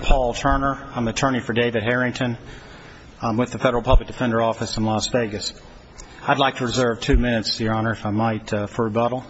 Paul Turner. I'm an attorney for David Harrington. I'm with the Federal Public Defender Office in Las Vegas. I'd like to reserve two minutes, Your Honor, if I might for rebuttal.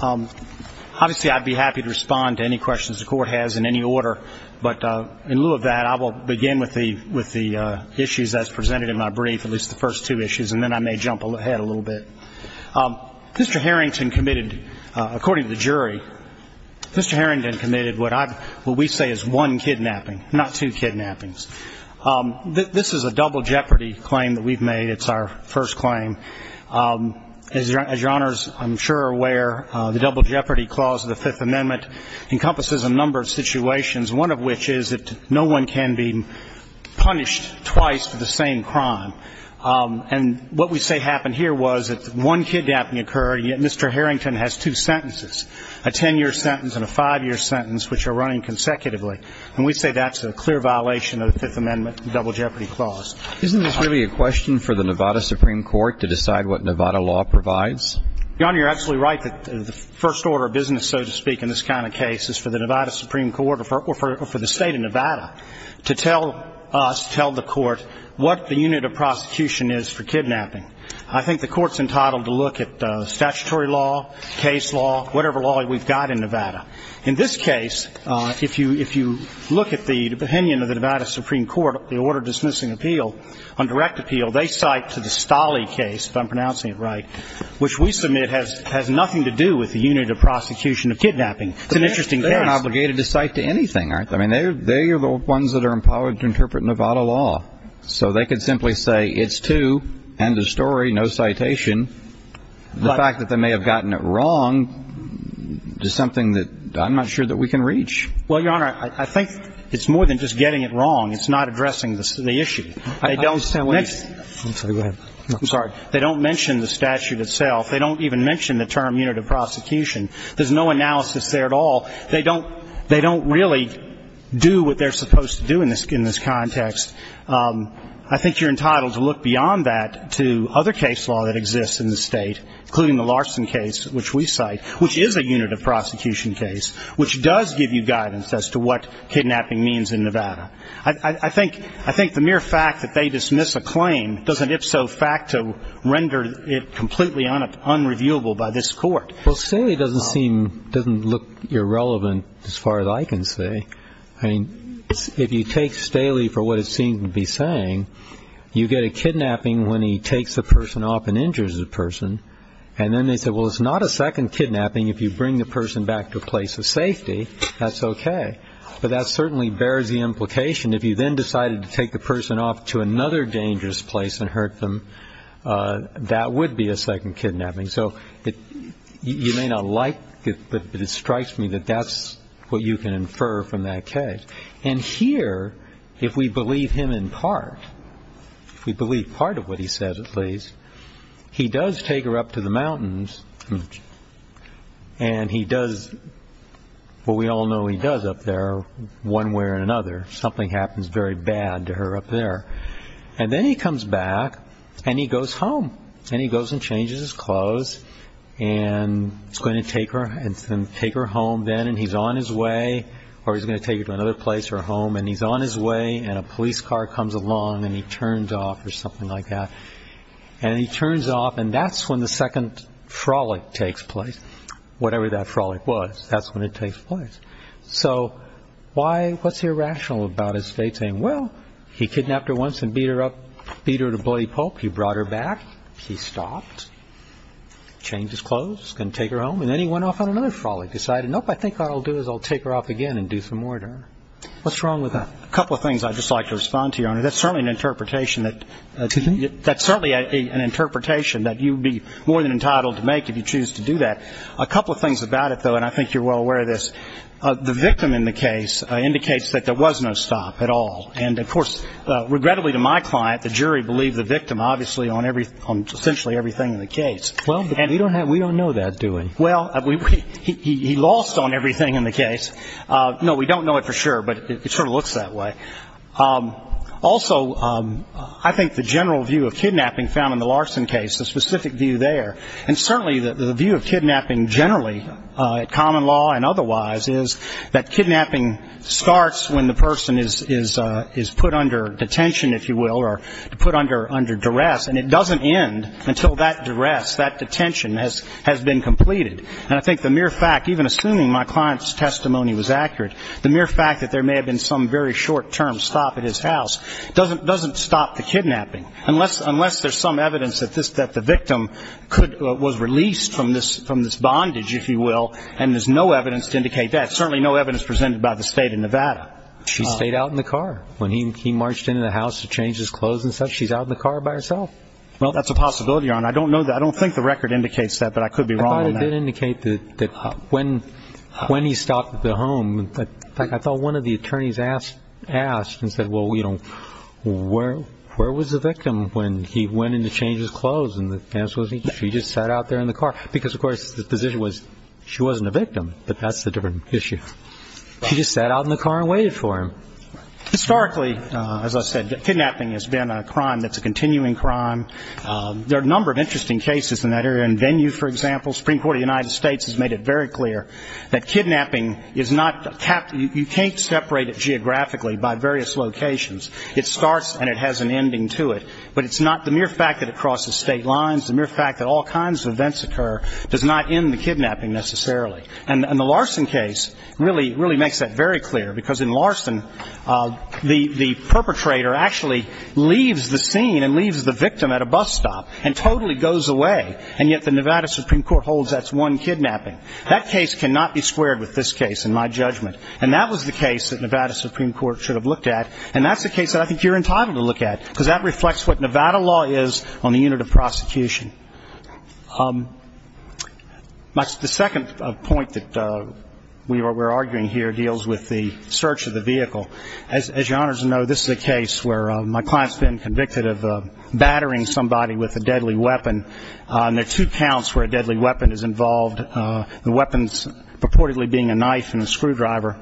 Obviously, I'd be happy to respond to any questions the Court has in any order, but in lieu of that, I will begin with the issues that's presented in my brief, at least the first two issues, and then I may jump ahead a little bit. Mr. Harrington committed, according to the jury, Mr. Harrington committed what I've, what we say is one kidnapping, not two kidnappings. This is a double jeopardy claim that we've made. It's our first claim. As Your Honor's, I'm sure, aware, the double jeopardy clause of the Fifth Amendment encompasses a number of situations, one of which is that no one can be punished twice for the same crime. And what we say happened here was that one kidnapping occurred, yet Mr. Harrington has two sentences, a ten-year sentence and a five-year sentence, which are running consecutively. And we say that's a clear violation of the Fifth Amendment double jeopardy clause. Isn't this really a question for the Nevada Supreme Court to decide what Nevada law provides? Your Honor, you're absolutely right that the first order of business, so to speak, in this kind of case is for the Nevada Supreme Court or for the State of Nevada to tell us, tell the Court, what the unit of prosecution is for kidnapping. I think the Court's entitled to look at statutory law, case law, whatever law we've got in Nevada. In this case, if you look at the opinion of the Nevada Supreme Court, the Order Dismissing Appeal, on direct appeal, they cite to the Stolle case, if I'm pronouncing it right, which we submit has nothing to do with the unit of prosecution of kidnapping. It's an interesting case. They aren't obligated to cite to anything, aren't they? I mean, they are the ones that are empowered to interpret Nevada law. So they could simply say, it's two, end of story, no citation. The fact that they may have gotten it wrong is something that I'm not sure that we can reach. Well, Your Honor, I think it's more than just getting it wrong. It's not addressing the issue. They don't mention the statute itself. They don't even mention the term unit of prosecution. There's no analysis there at all. They don't really do what they're supposed to do in this context. I think you're entitled to look beyond that to other case law that exists in the State, including the Larson case, which we cite, which is a unit of prosecution case, which does give you guidance as to what kidnapping means in Nevada. I think the mere fact that they dismiss a claim doesn't, if so, render it completely unreviewable by this Court. Well, Staley doesn't seem, doesn't look irrelevant as far as I can see. I mean, if you take Staley for what it seems to be saying, you get a kidnapping when he takes a person off and injures a person. And then they say, well, it's not a second kidnapping if you bring the person back to a place of safety. That's okay. But that certainly bears the implication if you then decided to take the person off to another dangerous place and hurt them, that would be a second kidnapping. So you may not like it, but it strikes me that that's what you can infer from that case. And here, if we believe him in part, if we believe part of what he says at least, he does take her up to the mountains and he does what we all know he does up there one way or another. Something happens very bad to her up there. And then he comes back and he goes home. And he goes and changes his clothes and is going to take her home then. And he's on his way, or he's going to take her to another place or home. And he's on his way and a police car comes along and he turns off or something like that. And he turns off and that's when the second frolic takes place. Whatever that frolic was, that's when it takes place. So why, what's irrational about his state saying, well, he kidnapped her once and beat her up, beat her to bloody pulp. He brought her back. He stopped, changed his clothes, going to take her home. And then he went off on another frolic, decided, nope, I think what I'll do is I'll take her off again and do some more to her. What's wrong with that? A couple of things I'd just like to respond to, Your Honor. That's certainly an interpretation that you'd be more than entitled to make if you choose to do that. A couple of things about it, though, and I think you're well aware of this. The victim in the case indicates that there was no stop at all. And of course, regrettably to my client, the jury believed the victim obviously on essentially everything in the case. Well, but we don't know that, do we? Well, he lost on everything in the case. No, we don't know it for sure, but it sort of looks that way. Also, I think the general view of kidnapping found in the Larson case, the specific view there, and certainly the view of kidnapping generally at common law and otherwise, is that kidnapping starts when the person is put under detention, if you will, or put under duress, and it doesn't end until that duress, that detention has been completed. And I think the mere fact, even assuming my client's testimony was accurate, the mere fact that there may have been some very short-term stop at his house doesn't stop the kidnapping, unless there's some evidence that the victim was released from this bondage, if you will, and there's no evidence to indicate that, certainly no evidence presented by the state of Nevada. She stayed out in the car when he marched into the house to change his clothes and stuff. She's out in the car by herself. Well, that's a possibility, Your Honor. I don't know that. I don't think the record indicates that, but I could be wrong on that. I thought it did indicate that when he stopped at the home, in fact, I thought one of the attorneys asked and said, well, you know, where was the victim when he went in to change his clothes? And the answer was, she just sat out there in the car, because of course, the position was, she wasn't a victim, but that's a different issue. She just sat out in the car and waited for him. Historically, as I said, kidnapping has been a crime that's a continuing crime. There are a number of interesting cases in that area. In Venue, for example, Supreme Court of the United States has made it very clear that kidnapping is not, you can't separate it geographically by various locations. It starts and it has an ending to it, but it's not the mere fact that it crosses state lines, the mere fact that all kinds of events occur does not end the kidnapping necessarily. And the Larson case really makes that very clear, because in Larson, the perpetrator actually leaves the scene and leaves the victim at a bus stop and totally goes away, and yet the Nevada Supreme Court holds that's one kidnapping. That case cannot be squared with this case, in my judgment. And that was the case that Nevada Supreme Court should have looked at, and that's the case that I think you're entitled to look at, because that reflects what Nevada law is on the unit of prosecution. The second point that we're arguing here deals with the search of the vehicle. As your Honors know, this is a case where my client's been convicted of battering somebody with a deadly weapon, and there are two counts where a deadly weapon is involved, the weapons purportedly being a knife and a screwdriver.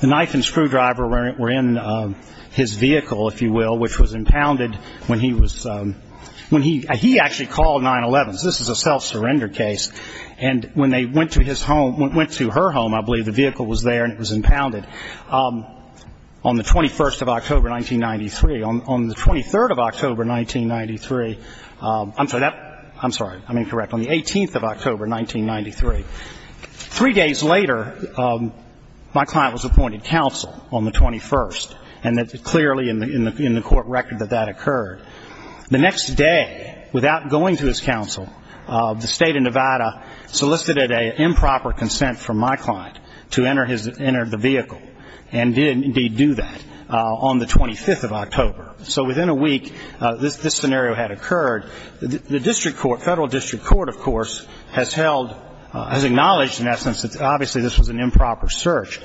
The knife and screwdriver were in his vehicle, if you will, when he was, when he, he actually called 9-11. This is a self-surrender case. And when they went to his home, went to her home, I believe the vehicle was there and it was impounded on the 21st of October 1993. On the 23rd of October 1993, I'm sorry, I'm sorry, I'm incorrect, on the 18th of October 1993. Three days later, my client was appointed counsel on the 21st, and it's clearly in the court record that that occurred. The next day, without going to his counsel, the state of Nevada solicited an improper consent from my client to enter the vehicle, and did indeed do that on the 25th of October. So within a week, this scenario had occurred. The district court, federal district court, of course, has held, has acknowledged in essence that obviously this was an improper search,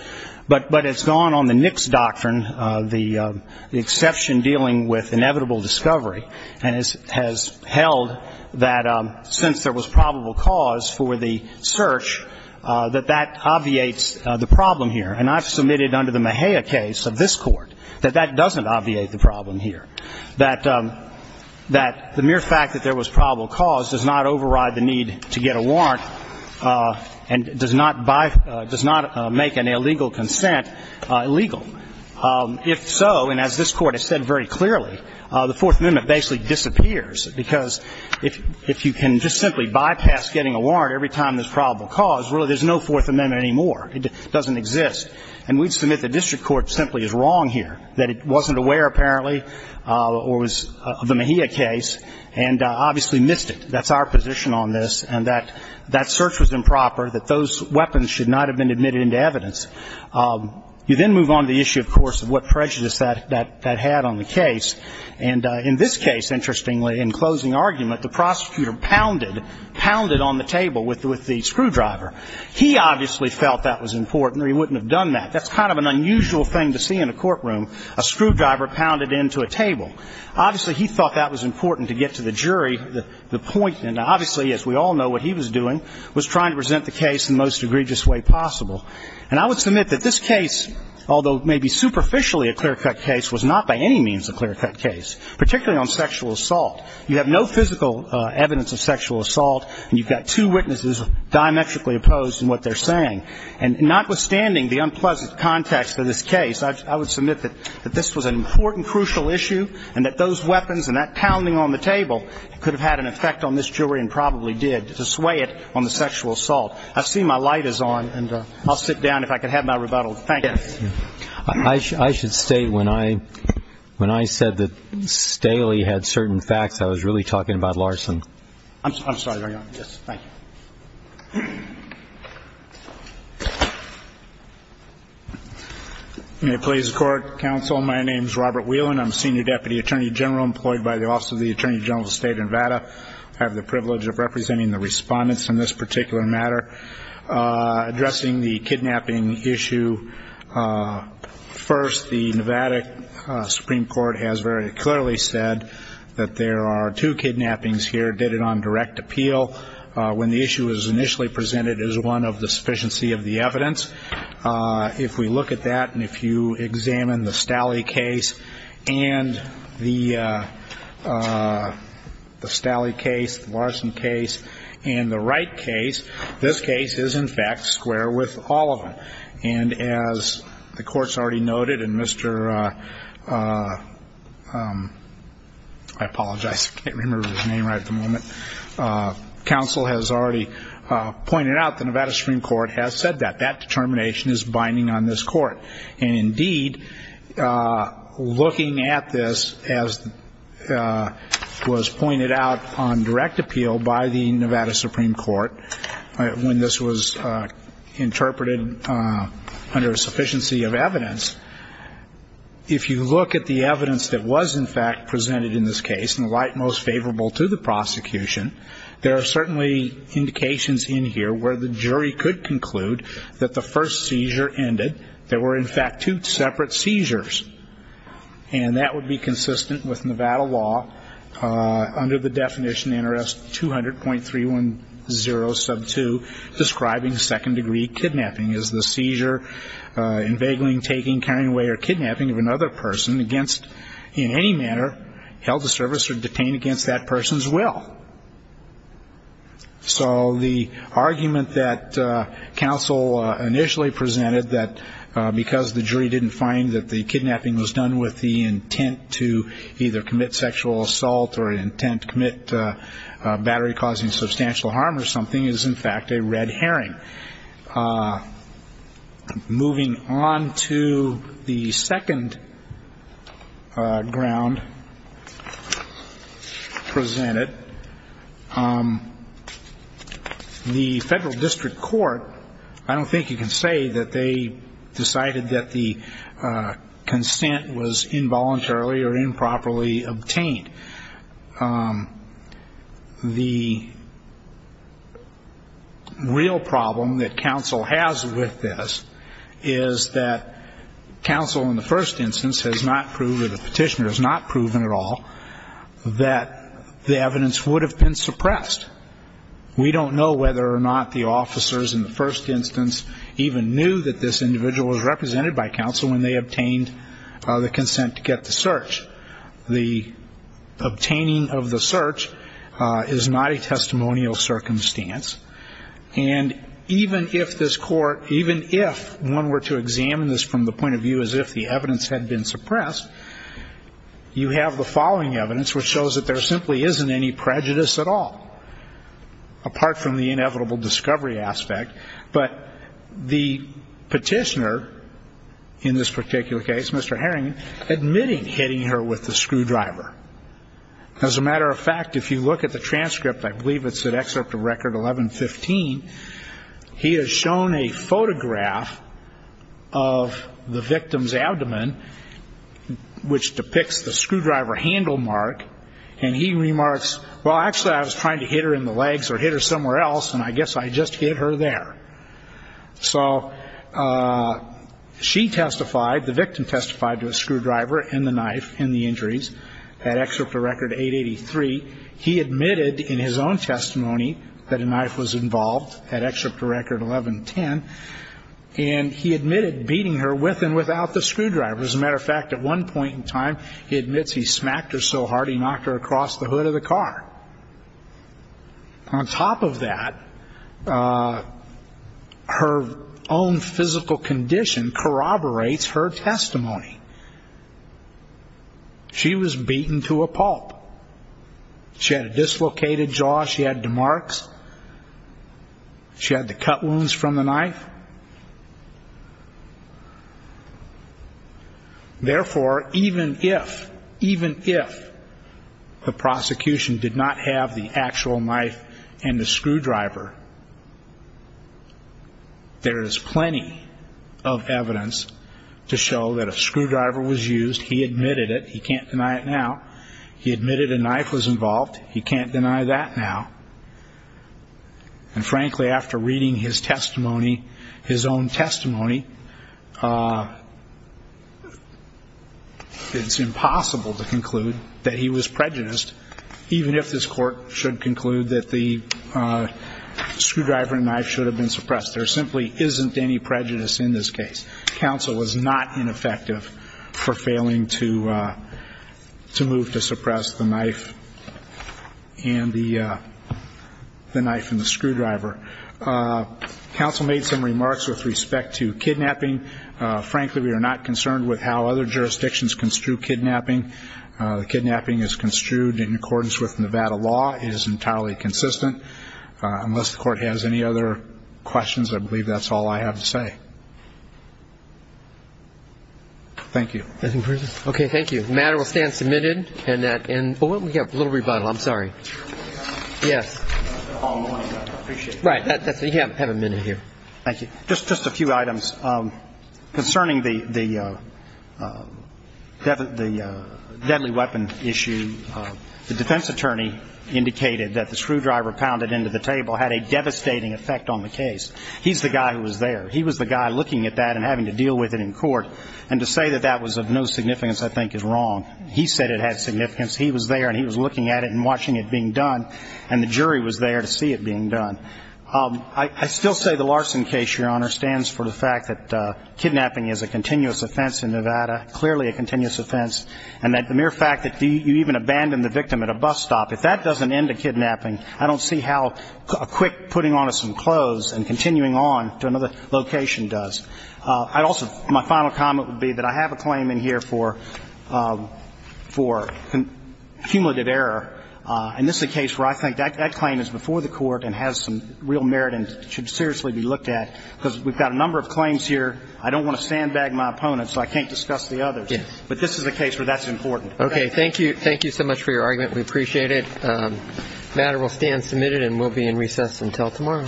but it's gone on the Nix doctrine, the exception dealing with inevitable discovery, and has held that since there was probable cause for the search, that that obviates the problem here. And I've submitted under the Mejia case of this court that that doesn't obviate the problem here, that the mere fact that there was probable cause does not override the need to get a warrant and does not make an illegal consent illegal. If so, and as this Court has said very clearly, the Fourth Amendment basically disappears, because if you can just simply bypass getting a warrant every time there's probable cause, really there's no Fourth Amendment anymore. It doesn't exist. And we'd submit the district court simply is wrong here, that it wasn't aware apparently, or was the Mejia case, and obviously missed it. That's our position on this, and that search was improper, that those weapons should not have been admitted into evidence. You then move on to the issue, of course, of what prejudice that had on the case. And in this case, interestingly, in closing argument, the prosecutor pounded, pounded on the table with the screwdriver. He obviously felt that was important, or he wouldn't have done that. That's kind of an unusual thing to see in a courtroom, a screwdriver pounded into a table. Obviously he thought that was important to get to the jury. The point, and obviously as we all know what he was doing, was trying to present the case in the most egregious way possible. And I would submit that this case, although maybe superficially a clear-cut case, was not by any means a clear-cut case, particularly on sexual assault. You have no physical evidence of sexual assault, and you've got two witnesses diametrically opposed in what they're saying. And notwithstanding the unpleasant context of this case, I would submit that this was an important, crucial issue, and that those weapons and that pounding on the table could have had an effect on this jury and probably did to sway it on the sexual assault. I see my light is on, and I'll sit down if I can have my rebuttal. Thank you. I should state when I said that Staley had certain facts, I was really talking about Larson. I'm sorry. Hang on. Yes. Thank you. May it please the Court, Counsel, my name is Robert Whelan. I'm a Senior Deputy Attorney General employed by the Office of the Attorney General of the State of Nevada. I have the privilege of representing the respondents in this particular matter addressing the kidnapping issue. First, the Nevada Supreme Court has very clearly said that there are two kidnappings here, dated on direct appeal, when the issue was initially presented as one of the sufficiency of the evidence. If we look at that, and if you examine the Staley case and the Staley case, the Larson case, and the Wright case, this case is in fact square with all of them. And as the Court's already noted, and Mr. I apologize, I can't remember his name right at the moment, Counsel has already pointed out the Nevada Supreme Court has said that. That determination is binding on this Court. And indeed, looking at this as was pointed out on direct appeal by the Nevada Supreme Court, when this was interpreted under sufficiency of evidence, if you look at the evidence that was in fact presented in this case, and the Wright most favorable to the prosecution, there are certainly indications in here where the jury could conclude that the first seizure ended, there were in fact two separate seizures. And that would be consistent with Nevada law under the definition NRS 200.310 sub 2 describing second degree kidnapping as the seizure, inveigling, taking, carrying away, or kidnapping of another person against, in any manner, held to service or detained against that person's will. So the argument that Counsel initially presented that because the jury didn't find that the kidnapping was done with the intent to either commit sexual assault or intent to commit battery causing substantial harm or something is in fact a red herring. Moving on to the second ground presented, the Federal District Court, I don't think you can say that they decided that the consent was involuntarily or improperly obtained. The real problem that Counsel has with this is that Counsel in the first instance has not proved or the petitioner has not proven at all that the evidence would have been suppressed. We don't know whether or not the officers in the first instance even knew that this obtaining of the search is not a testimonial circumstance. And even if this court, even if one were to examine this from the point of view as if the evidence had been suppressed, you have the following evidence which shows that there simply isn't any prejudice at all, apart from the inevitable discovery aspect. But the petitioner in this particular case, Mr. Harrington, admitting hitting her with the screwdriver. As a matter of fact, if you look at the transcript, I believe it's an excerpt of record 1115, he has shown a photograph of the victim's abdomen, which depicts the screwdriver handle mark, and he remarks, well actually I was trying to hit her in the legs or hit her somewhere else and I guess I just hit her there. So she testified, the victim testified to a screwdriver and the knife and the injuries. That excerpt of record 883. He admitted in his own testimony that a knife was involved, that excerpt of record 1110, and he admitted beating her with and without the screwdriver. As a matter of fact, at one point in time he admits he smacked her so hard in the car. On top of that, her own physical condition corroborates her testimony. She was beaten to a pulp. She had a dislocated jaw, she had demarks, she had to cut wounds from the knife. Therefore, even if, even if, the prosecution admits that she was beaten and the prosecution did not have the actual knife and the screwdriver, there is plenty of evidence to show that a screwdriver was used, he admitted it, he can't deny it now. He admitted a knife was involved, he can't deny that now. And frankly, after reading his testimony, his own testimony, it's impossible to conclude that he was prejudiced, even if this court should conclude that the screwdriver and knife should have been suppressed. There simply isn't any prejudice in this case. Counsel was not ineffective for failing to move to suppress the knife and the, the knife and the screwdriver. Counsel made some remarks with respect to kidnapping. Frankly, we are not concerned with how other jurisdictions construe kidnapping. Kidnapping is construed in accordance with Nevada law. It is entirely consistent. Unless the court has any other questions, I believe that's all I have to say. Thank you. Okay, thank you. The matter will stand submitted. And that, and, oh, we have a little rebuttal. I'm sorry. Yes. All morning, I appreciate that. Right, that's, you have a minute here. Thank you. Just, just a few items. Concerning the, the deadly weapon issue, the defense attorney indicated that the screwdriver pounded into the table had a devastating effect on the case. He's the guy who was there. He was the guy looking at that and having to deal with it in court. And to say that that was of no significance, I think, is wrong. He said it had significance. He was there and he was looking at it and watching it being done. I still say the Larson case, Your Honor, stands for the fact that kidnapping is a continuous offense in Nevada, clearly a continuous offense. And that the mere fact that you even abandon the victim at a bus stop, if that doesn't end a kidnapping, I don't see how a quick putting on of some clothes and continuing on to another location does. I'd also, my final comment would be that I have a claim in here for, for cumulative error. And this is a case where I think that, that claim is before the court and has some real merit and should seriously be looked at. Because we've got a number of claims here, I don't want to sandbag my opponents so I can't discuss the others. Yes. But this is a case where that's important. Okay. Thank you. Thank you so much for your argument. We appreciate it. The matter will stand submitted and will be in recess until tomorrow.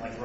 Thank you.